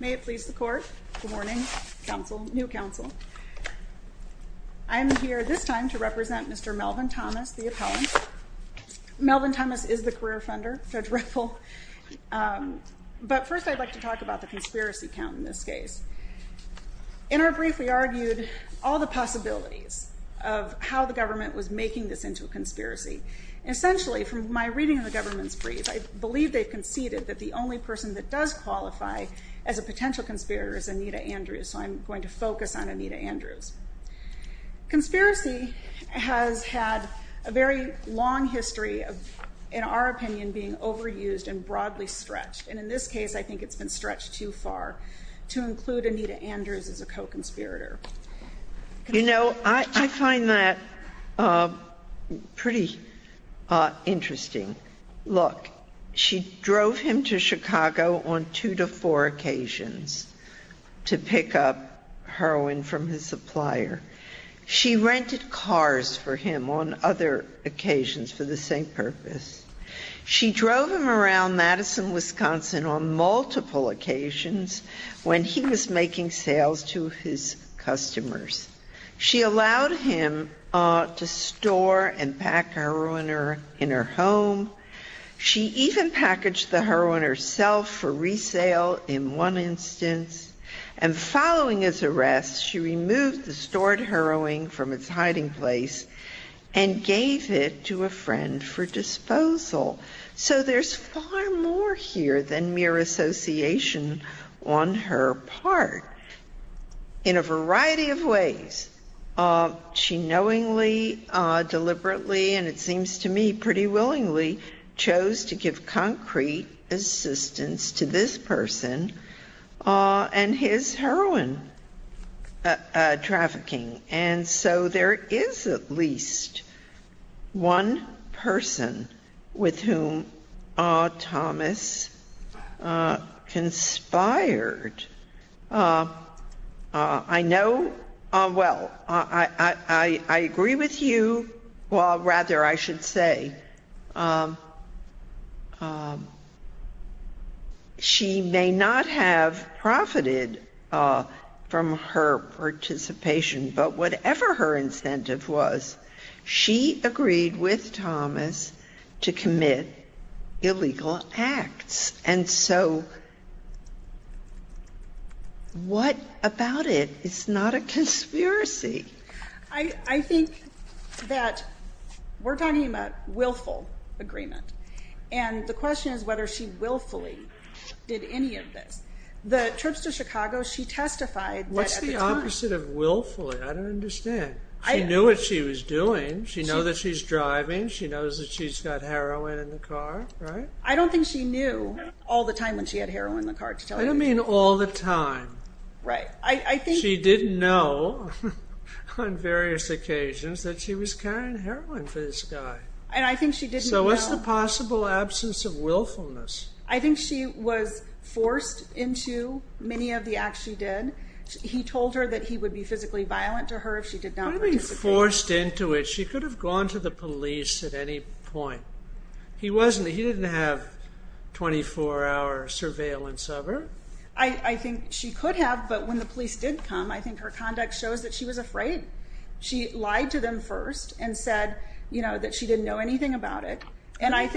May it please the court. Good morning, new counsel. I'm here this time to represent Mr. Melvin Thomas, the appellant. Melvin Thomas is the career funder, Judge Ripple. But first I'd like to talk about the conspiracy count in this case. In our brief, we argued all the possibilities of how the government was making this into a conspiracy. Essentially, from my reading of the government's brief, I believe they've conceded that the only person that does qualify as a potential conspirator is Anita Andrews. So I'm going to focus on Anita Andrews. Conspiracy has had a very long history of, in our opinion, being overused and broadly stretched. And in this case, I think it's been stretched too far to include Anita Andrews as a co-conspirator. You know, I find that pretty interesting. Look, she drove him to Chicago on two to four occasions to pick up heroin from his supplier. She rented cars for him on other occasions for the same purpose. She drove him around Madison, Wisconsin on multiple occasions when he was making sales to his customers. She allowed him to store and pack heroin in her home. She even packaged the heroin herself for resale in one instance. And following his arrest, she removed the stored heroin from its hiding place and gave it to a friend for disposal. So there's far more here than mere association on her part. In a variety of ways, she knowingly, deliberately, and it seems to me pretty willingly, chose to give concrete assistance to this person. And his heroin trafficking. And so there is at least one person with whom Thomas conspired. I know, well, I agree with you. Well, rather, I should say, she may not have profited from her participation, but whatever her incentive was, she agreed with Thomas to commit illegal acts. And so what about it? It's not a conspiracy. I think that we're talking about willful agreement. And the question is whether she willfully did any of this. The trips to Chicago, she testified. What's the opposite of willfully? I don't understand. She knew what she was doing. She knows that she's driving. She knows that she's got heroin in the car. I don't think she knew all the time when she had heroin in the car. I don't mean all the time. She didn't know on various occasions that she was carrying heroin for this guy. So what's the possible absence of willfulness? I think she was forced into many of the acts she did. He told her that he would be physically violent to her if she did not participate. What do you mean forced into it? She could have gone to the police at any point. He didn't have 24-hour surveillance of her. I think she could have, but when the police did come, I think her conduct shows that she was afraid. She lied to them first and said that she didn't know anything about it.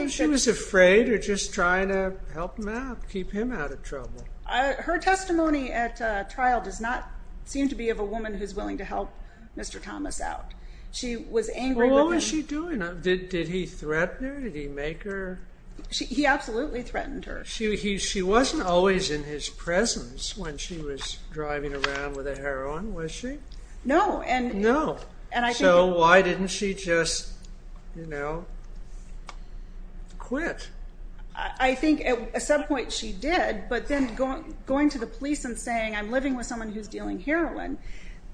She was afraid or just trying to help him out, keep him out of trouble. Her testimony at trial does not seem to be of a woman who's willing to help Mr. Thomas out. She was angry with him. What was she doing? Did he threaten her? Did he make her? He absolutely threatened her. She wasn't always in his presence when she was driving around with the heroin, was she? No. No. So why didn't she just, you know, quit? I think at some point she did, but then going to the police and saying, I'm living with someone who's dealing heroin,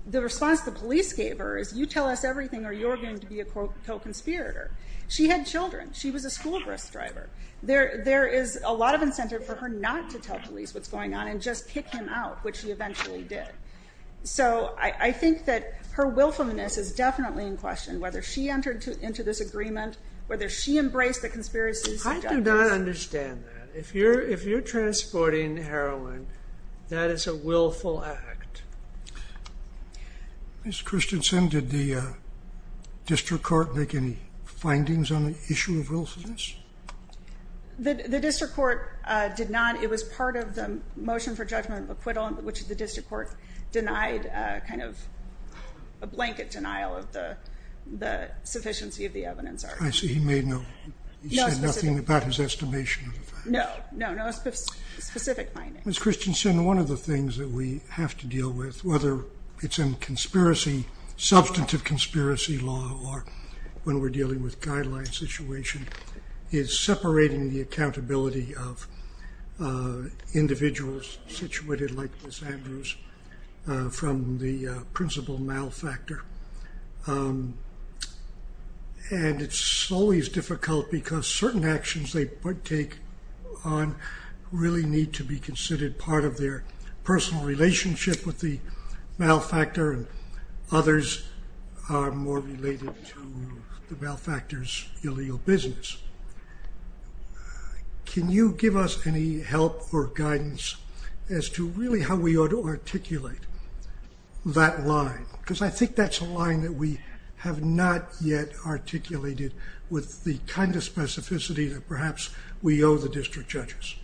the response the police gave her is, you tell us everything or you're going to be a co-conspirator. She had children. She was a school bus driver. There is a lot of incentive for her not to tell police what's going on and just pick him out, which she eventually did. So I think that her willfulness is definitely in question, whether she entered into this agreement, whether she embraced the conspiracy. I do not understand that. If you're transporting heroin, that is a willful act. Ms. Christensen, did the district court make any findings on the issue of willfulness? The district court did not. It was part of the motion for judgment of acquittal, which the district court denied kind of a blanket denial of the sufficiency of the evidence. I see. He said nothing about his estimation of the facts. No, no specific findings. Ms. Christensen, one of the things that we have to deal with, whether it's in substantive conspiracy law or when we're dealing with guideline situation, is separating the accountability of individuals situated like Ms. Andrews from the principal malfactor. And it's always difficult because certain actions they take on really need to be considered part of their personal relationship with the malfactor and others are more related to the malfactor's illegal business. Can you give us any help or guidance as to really how we ought to articulate that line? Because I think that's a line that we have not yet articulated with the kind of specificity that perhaps we owe the district judges.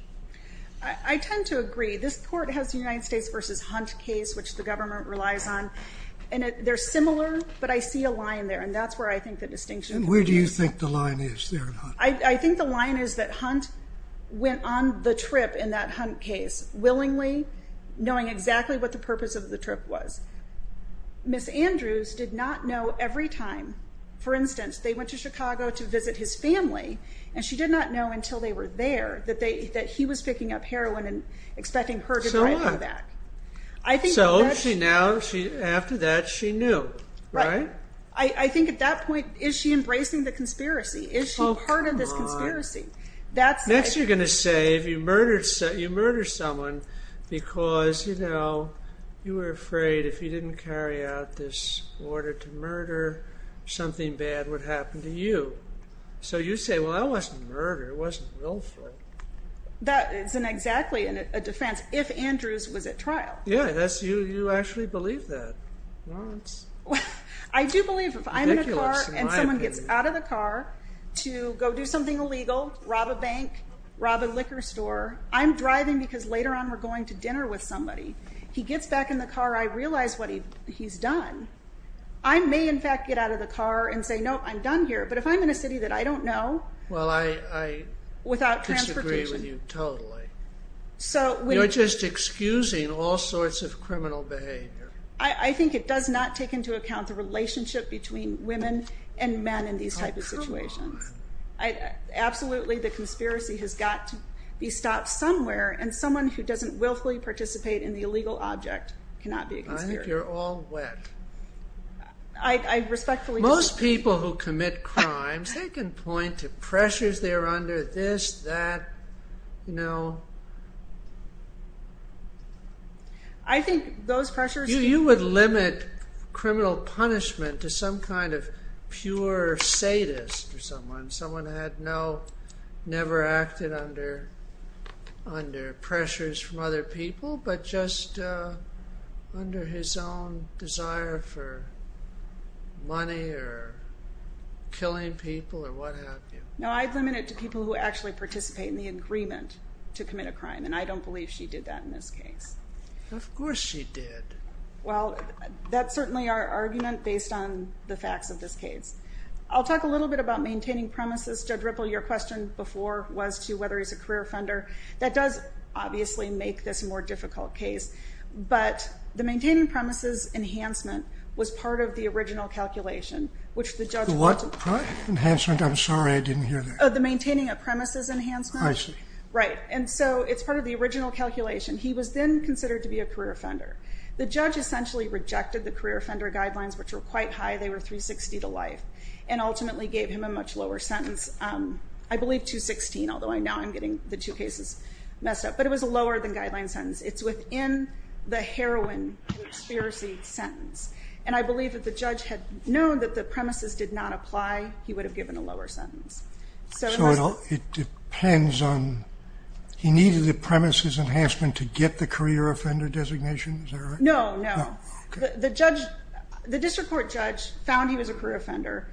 I tend to agree. This court has the United States v. Hunt case, which the government relies on, and they're similar, but I see a line there, and that's where I think the distinction is. And where do you think the line is there in Hunt? I think the line is that Hunt went on the trip in that Hunt case, willingly knowing exactly what the purpose of the trip was. Ms. Andrews did not know every time. For instance, they went to Chicago to visit his family, So what? So after that, she knew, right? I think at that point, is she embracing the conspiracy? Is she part of this conspiracy? Next you're going to say you murdered someone because, you know, you were afraid if you didn't carry out this order to murder, something bad would happen to you. So you say, well, that wasn't murder. It wasn't willful. That isn't exactly a defense if Andrews was at trial. Yeah, you actually believe that. I do believe if I'm in a car and someone gets out of the car to go do something illegal, rob a bank, rob a liquor store, I'm driving because later on we're going to dinner with somebody. He gets back in the car, I realize what he's done. I may, in fact, get out of the car and say, no, I'm done here. But if I'm in a city that I don't know, without transportation. I disagree with you totally. You're just excusing all sorts of criminal behavior. I think it does not take into account the relationship between women and men in these types of situations. Absolutely, the conspiracy has got to be stopped somewhere, and someone who doesn't willfully participate in the illegal object cannot be a conspirator. I think you're all wet. I respectfully disagree. Most people who commit crimes, they can point to pressures they're under, this, that. I think those pressures... You would limit criminal punishment to some kind of pure sadist or someone. Someone who had never acted under pressures from other people, but just under his own desire for money or killing people or what have you. No, I'd limit it to people who actually participate in the agreement to commit a crime, and I don't believe she did that in this case. Of course she did. Well, that's certainly our argument based on the facts of this case. I'll talk a little bit about maintaining premises. Judge Ripple, your question before was to whether he's a career offender. That does obviously make this a more difficult case, but the maintaining premises enhancement was part of the original calculation, which the judge... The what? Enhancement? I'm sorry, I didn't hear that. The maintaining of premises enhancement. I see. Right, and so it's part of the original calculation. He was then considered to be a career offender. The judge essentially rejected the career offender guidelines, which were quite high, they were 360 to life, and ultimately gave him a much lower sentence, I believe 216, although I know I'm getting the two cases messed up, but it was a lower than guideline sentence. It's within the heroin conspiracy sentence, and I believe that the judge had known that the premises did not apply, he would have given a lower sentence. So it depends on... He needed the premises enhancement to get the career offender designation? Is that right? No, no. The district court judge found he was a career offender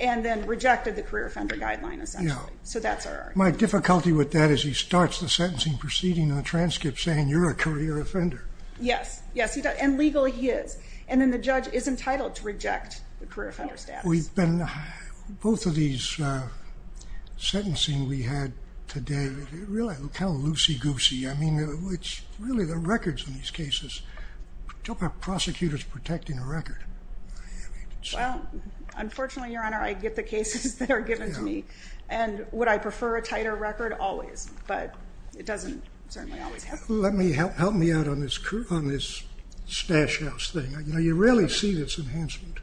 and then rejected the career offender guideline, essentially. So that's our argument. My difficulty with that is he starts the sentencing proceeding in the transcript saying you're a career offender. Yes, yes, and legally he is, and then the judge is entitled to reject the career offender status. Both of these sentencing we had today, they're really kind of loosey-goosey. I mean, it's really the records in these cases. It's all about prosecutors protecting the record. Well, unfortunately, Your Honor, I get the cases that are given to me, and would I prefer a tighter record? Always, but it doesn't certainly always happen. Help me out on this stash house thing. You really see this enhancement.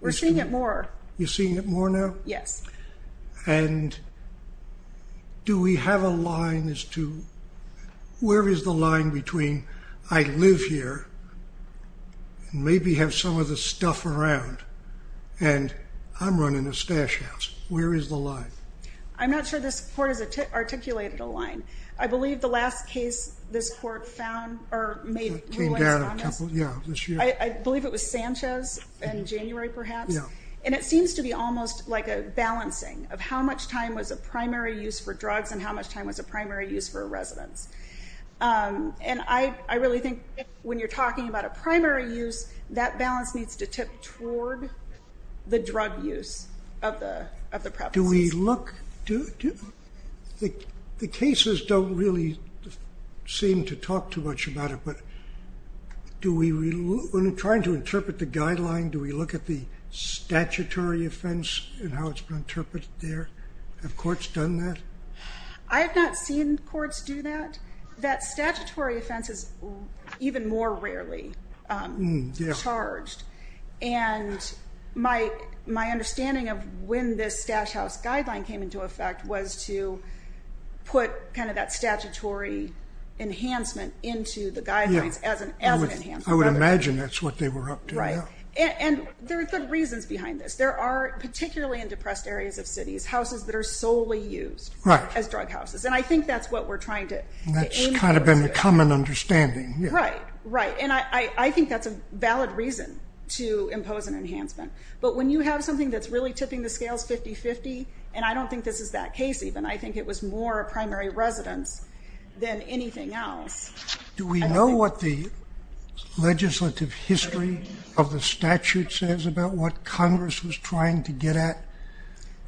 We're seeing it more. You're seeing it more now? Yes. And do we have a line as to where is the line between I live here and maybe have some of the stuff around, and I'm running a stash house. Where is the line? I'm not sure this court has articulated a line. I believe the last case this court found or made rulings on this, I believe it was Sanchez in January perhaps, and it seems to be almost like a balancing of how much time was a primary use for drugs and how much time was a primary use for a residence. And I really think when you're talking about a primary use, that balance needs to tip toward the drug use of the premises. The cases don't really seem to talk too much about it, but when we're trying to interpret the guideline, do we look at the statutory offense and how it's been interpreted there? Have courts done that? I have not seen courts do that. That statutory offense is even more rarely. Yeah. Charged. And my understanding of when this stash house guideline came into effect was to put kind of that statutory enhancement into the guidelines as an enhancement. I would imagine that's what they were up to. Right. And there are good reasons behind this. There are, particularly in depressed areas of cities, houses that are solely used as drug houses, and I think that's what we're trying to aim to do. That's kind of been the common understanding. Right, right. And I think that's a valid reason to impose an enhancement. But when you have something that's really tipping the scales 50-50, and I don't think this is that case even, I think it was more primary residence than anything else. Do we know what the legislative history of the statute says about what Congress was trying to get at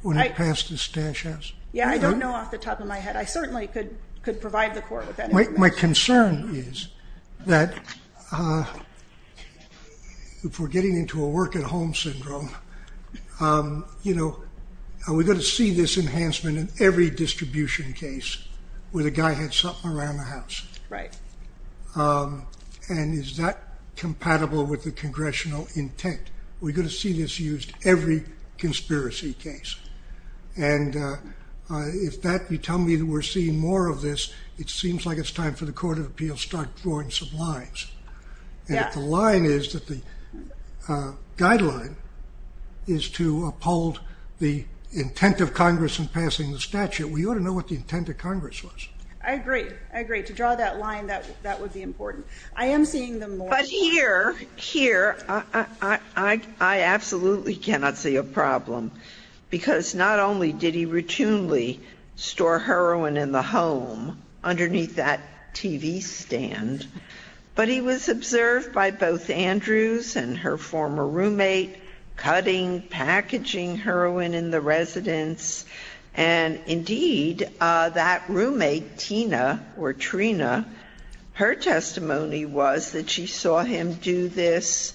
when it passed the stash house? Yeah, I don't know off the top of my head. I certainly could provide the court with that information. My concern is that if we're getting into a work-at-home syndrome, are we going to see this enhancement in every distribution case where the guy had something around the house? Right. And is that compatible with the congressional intent? Are we going to see this used every conspiracy case? And if you tell me that we're seeing more of this, it seems like it's time for the Court of Appeals to start drawing some lines. Yeah. And if the line is that the guideline is to uphold the intent of Congress in passing the statute, we ought to know what the intent of Congress was. I agree. I agree. To draw that line, that would be important. I am seeing them more. But here, here, I absolutely cannot see a problem, because not only did he routinely store heroin in the home underneath that TV stand, but he was observed by both Andrews and her former roommate cutting packaging heroin in the residence. And, indeed, that roommate, Tina, or Trina, her testimony was that she saw him do this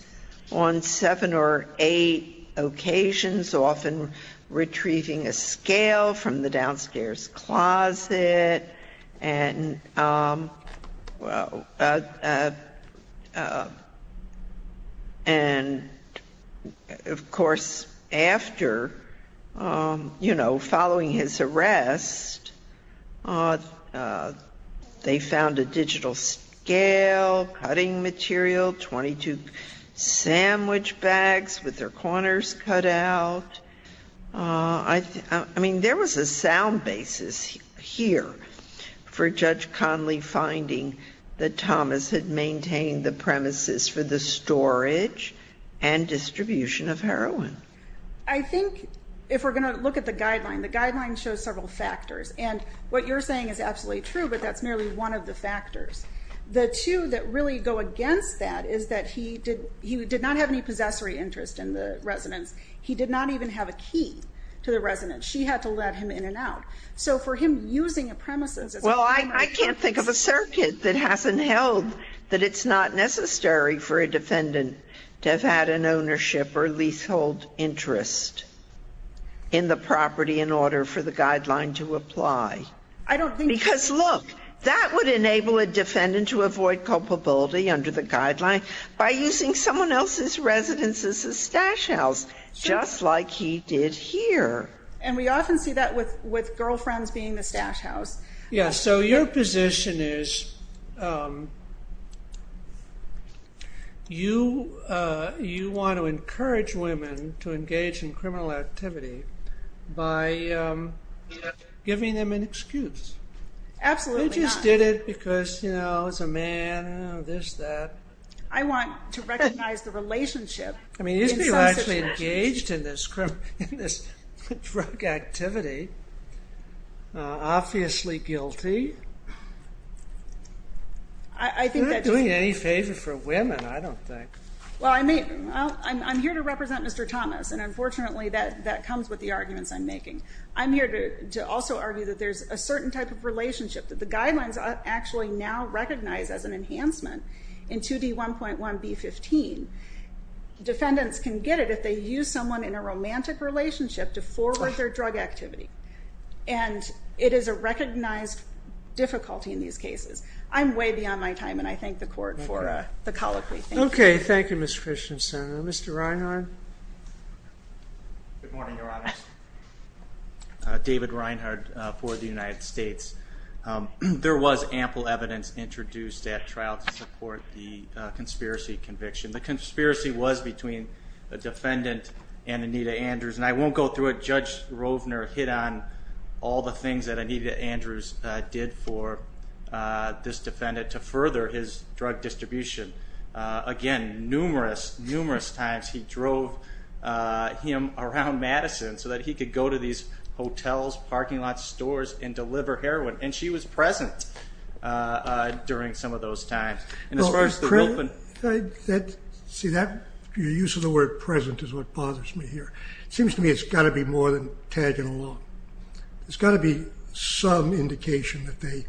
on seven or eight occasions, often retrieving a scale from the downstairs closet. And, of course, after, you know, following his arrest, they found a digital scale, cutting material, 22 sandwich bags with their corners cut out. I mean, there was a sound basis here for Judge Conley finding that Thomas had maintained the premises for the storage and distribution of heroin. I think if we're going to look at the guideline, the guideline shows several factors. And what you're saying is absolutely true, but that's merely one of the factors. The two that really go against that is that he did not have any possessory interest in the residence. He did not even have a key to the residence. She had to let him in and out. So for him using a premises as a premises. Well, I can't think of a circuit that hasn't held that it's not necessary for a defendant to have had an ownership or leasehold interest in the property in order for the guideline to apply. Because, look, that would enable a defendant to avoid culpability under the guideline by using someone else's residence as a stash house, just like he did here. And we often see that with girlfriends being the stash house. Yes, so your position is you want to encourage women to engage in criminal activity by giving them an excuse. Absolutely not. They just did it because, you know, it's a man, this, that. I want to recognize the relationship in some situations. Engaged in this drug activity. Obviously guilty. I'm not doing any favor for women, I don't think. Well, I'm here to represent Mr. Thomas, and unfortunately that comes with the arguments I'm making. I'm here to also argue that there's a certain type of relationship, that the guidelines are actually now recognized as an enhancement in 2D1.1B15. Defendants can get it if they use someone in a romantic relationship to forward their drug activity. And it is a recognized difficulty in these cases. I'm way beyond my time, and I thank the court for the call. Okay, thank you, Ms. Christiansen. Mr. Reinhard? Good morning, Your Honors. David Reinhard for the United States. There was ample evidence introduced at trial to support the conspiracy conviction. The conspiracy was between the defendant and Anita Andrews, and I won't go through it. Judge Rovner hit on all the things that Anita Andrews did for this defendant to further his drug distribution. Again, numerous, numerous times he drove him around Madison so that he could go to these hotels, parking lots, stores, and deliver heroin. And she was present during some of those times. See, your use of the word present is what bothers me here. It seems to me it's got to be more than tagging along. There's got to be some indication that they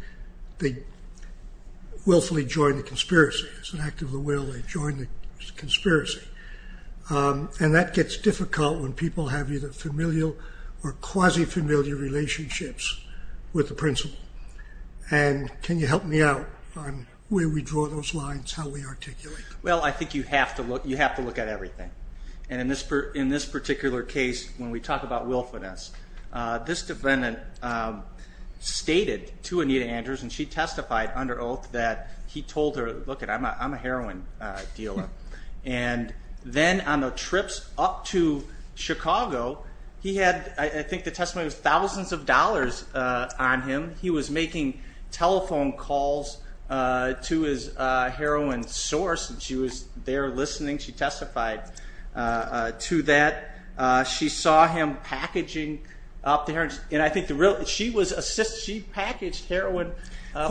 willfully joined the conspiracy. It's an act of the will. They joined the conspiracy. And that gets difficult when people have either familial or quasi-familial relationships with the principal. And can you help me out on where we draw those lines, how we articulate them? Well, I think you have to look at everything. And in this particular case, when we talk about willfulness, this defendant stated to Anita Andrews, and she testified under oath, that he told her, look it, I'm a heroin dealer. And then on the trips up to Chicago, he had, I think the testimony was thousands of dollars on him. He was making telephone calls to his heroin source, and she was there listening. She testified to that. She saw him packaging up the heroin. And I think the real – she was – she packaged heroin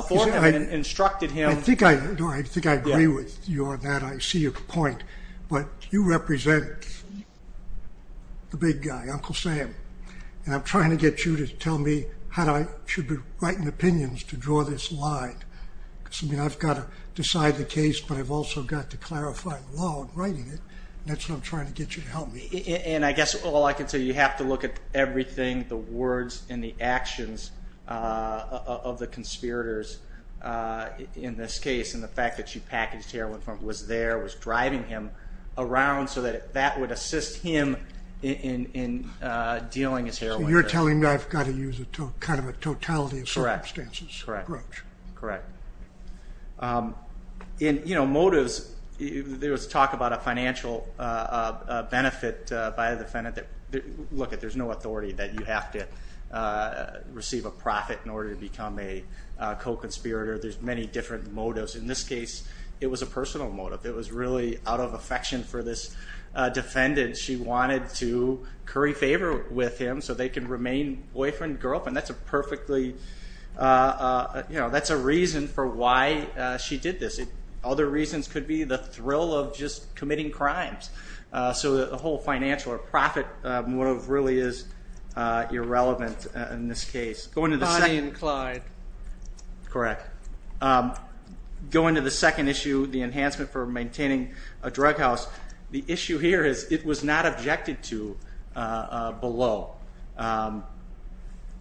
for him and instructed him. I think I agree with you on that. I see your point. But you represent the big guy, Uncle Sam. And I'm trying to get you to tell me how I should be writing opinions to draw this line. Because, I mean, I've got to decide the case, but I've also got to clarify the law in writing it. And that's what I'm trying to get you to help me. And I guess all I can tell you, you have to look at everything, the words and the actions of the conspirators in this case, and the fact that she packaged heroin for him, was there, was driving him around, so that that would assist him in dealing his heroin. So you're telling me I've got to use kind of a totality of circumstances approach. Correct. In, you know, motives, there was talk about a financial benefit by the defendant. Look, there's no authority that you have to receive a profit in order to become a co-conspirator. There's many different motives. In this case, it was a personal motive. It was really out of affection for this defendant. She wanted to curry favor with him so they could remain boyfriend and girlfriend. That's a perfectly – you know, that's a reason for why she did this. Other reasons could be the thrill of just committing crimes. So the whole financial or profit motive really is irrelevant in this case. Bonnie and Clyde. Correct. Going to the second issue, the enhancement for maintaining a drug house, the issue here is it was not objected to below.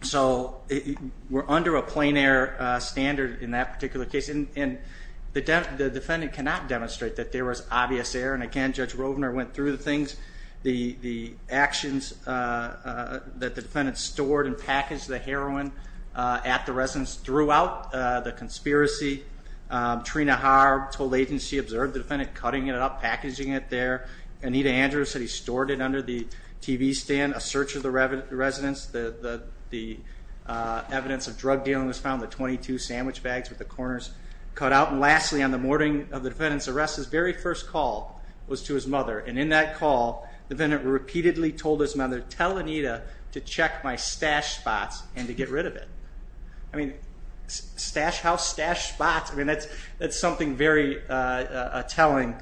So we're under a plain error standard in that particular case, and the defendant cannot demonstrate that there was obvious error. And, again, Judge Rovner went through the things, the actions that the defendant stored and packaged the heroin at the residence throughout the conspiracy. Trina Harb told the agency, observed the defendant cutting it up, packaging it there. Anita Andrews said he stored it under the TV stand, a search of the residence. The evidence of drug dealing was found in the 22 sandwich bags with the corners cut out. And lastly, on the morning of the defendant's arrest, his very first call was to his mother. And in that call, the defendant repeatedly told his mother, tell Anita to check my stash spots and to get rid of it. I mean, stash house, stash spots, I mean, that's something very telling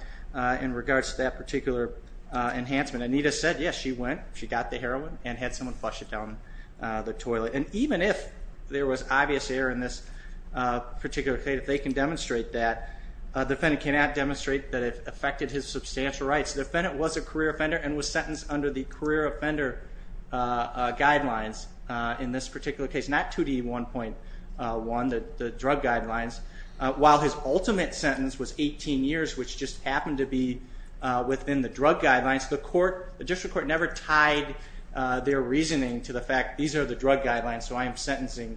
in regards to that particular enhancement. Anita said, yes, she went, she got the heroin, and had someone flush it down the toilet. And even if there was obvious error in this particular case, if they can demonstrate that, the defendant cannot demonstrate that it affected his substantial rights. The defendant was a career offender and was sentenced under the career offender guidelines in this particular case. Not 2D1.1, the drug guidelines. While his ultimate sentence was 18 years, which just happened to be within the drug guidelines, the court, the district court, never tied their reasoning to the fact these are the drug guidelines, so I am sentencing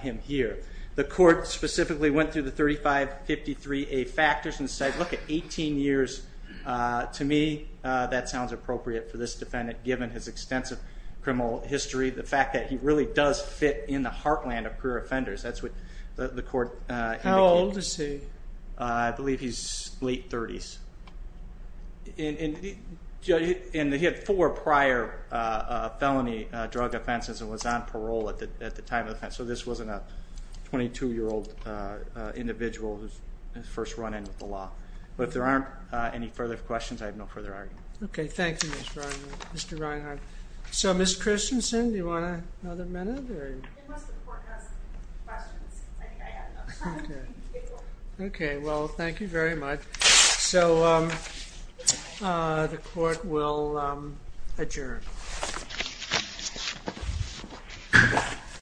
him here. The court specifically went through the 3553A factors and said, look at 18 years. To me, that sounds appropriate for this defendant, given his extensive criminal history, the fact that he really does fit in the heartland of career offenders. That's what the court indicated. How old is he? I believe he's late 30s. And he had four prior felony drug offenses and was on parole at the time of the offense, so this wasn't a 22-year-old individual whose first run-in with the law. But if there aren't any further questions, I have no further argument. Okay, thank you, Mr. Reinhart. So, Ms. Christensen, do you want another minute? It must have forecast questions. I think I have enough time. Okay, well, thank you very much. So the court will adjourn.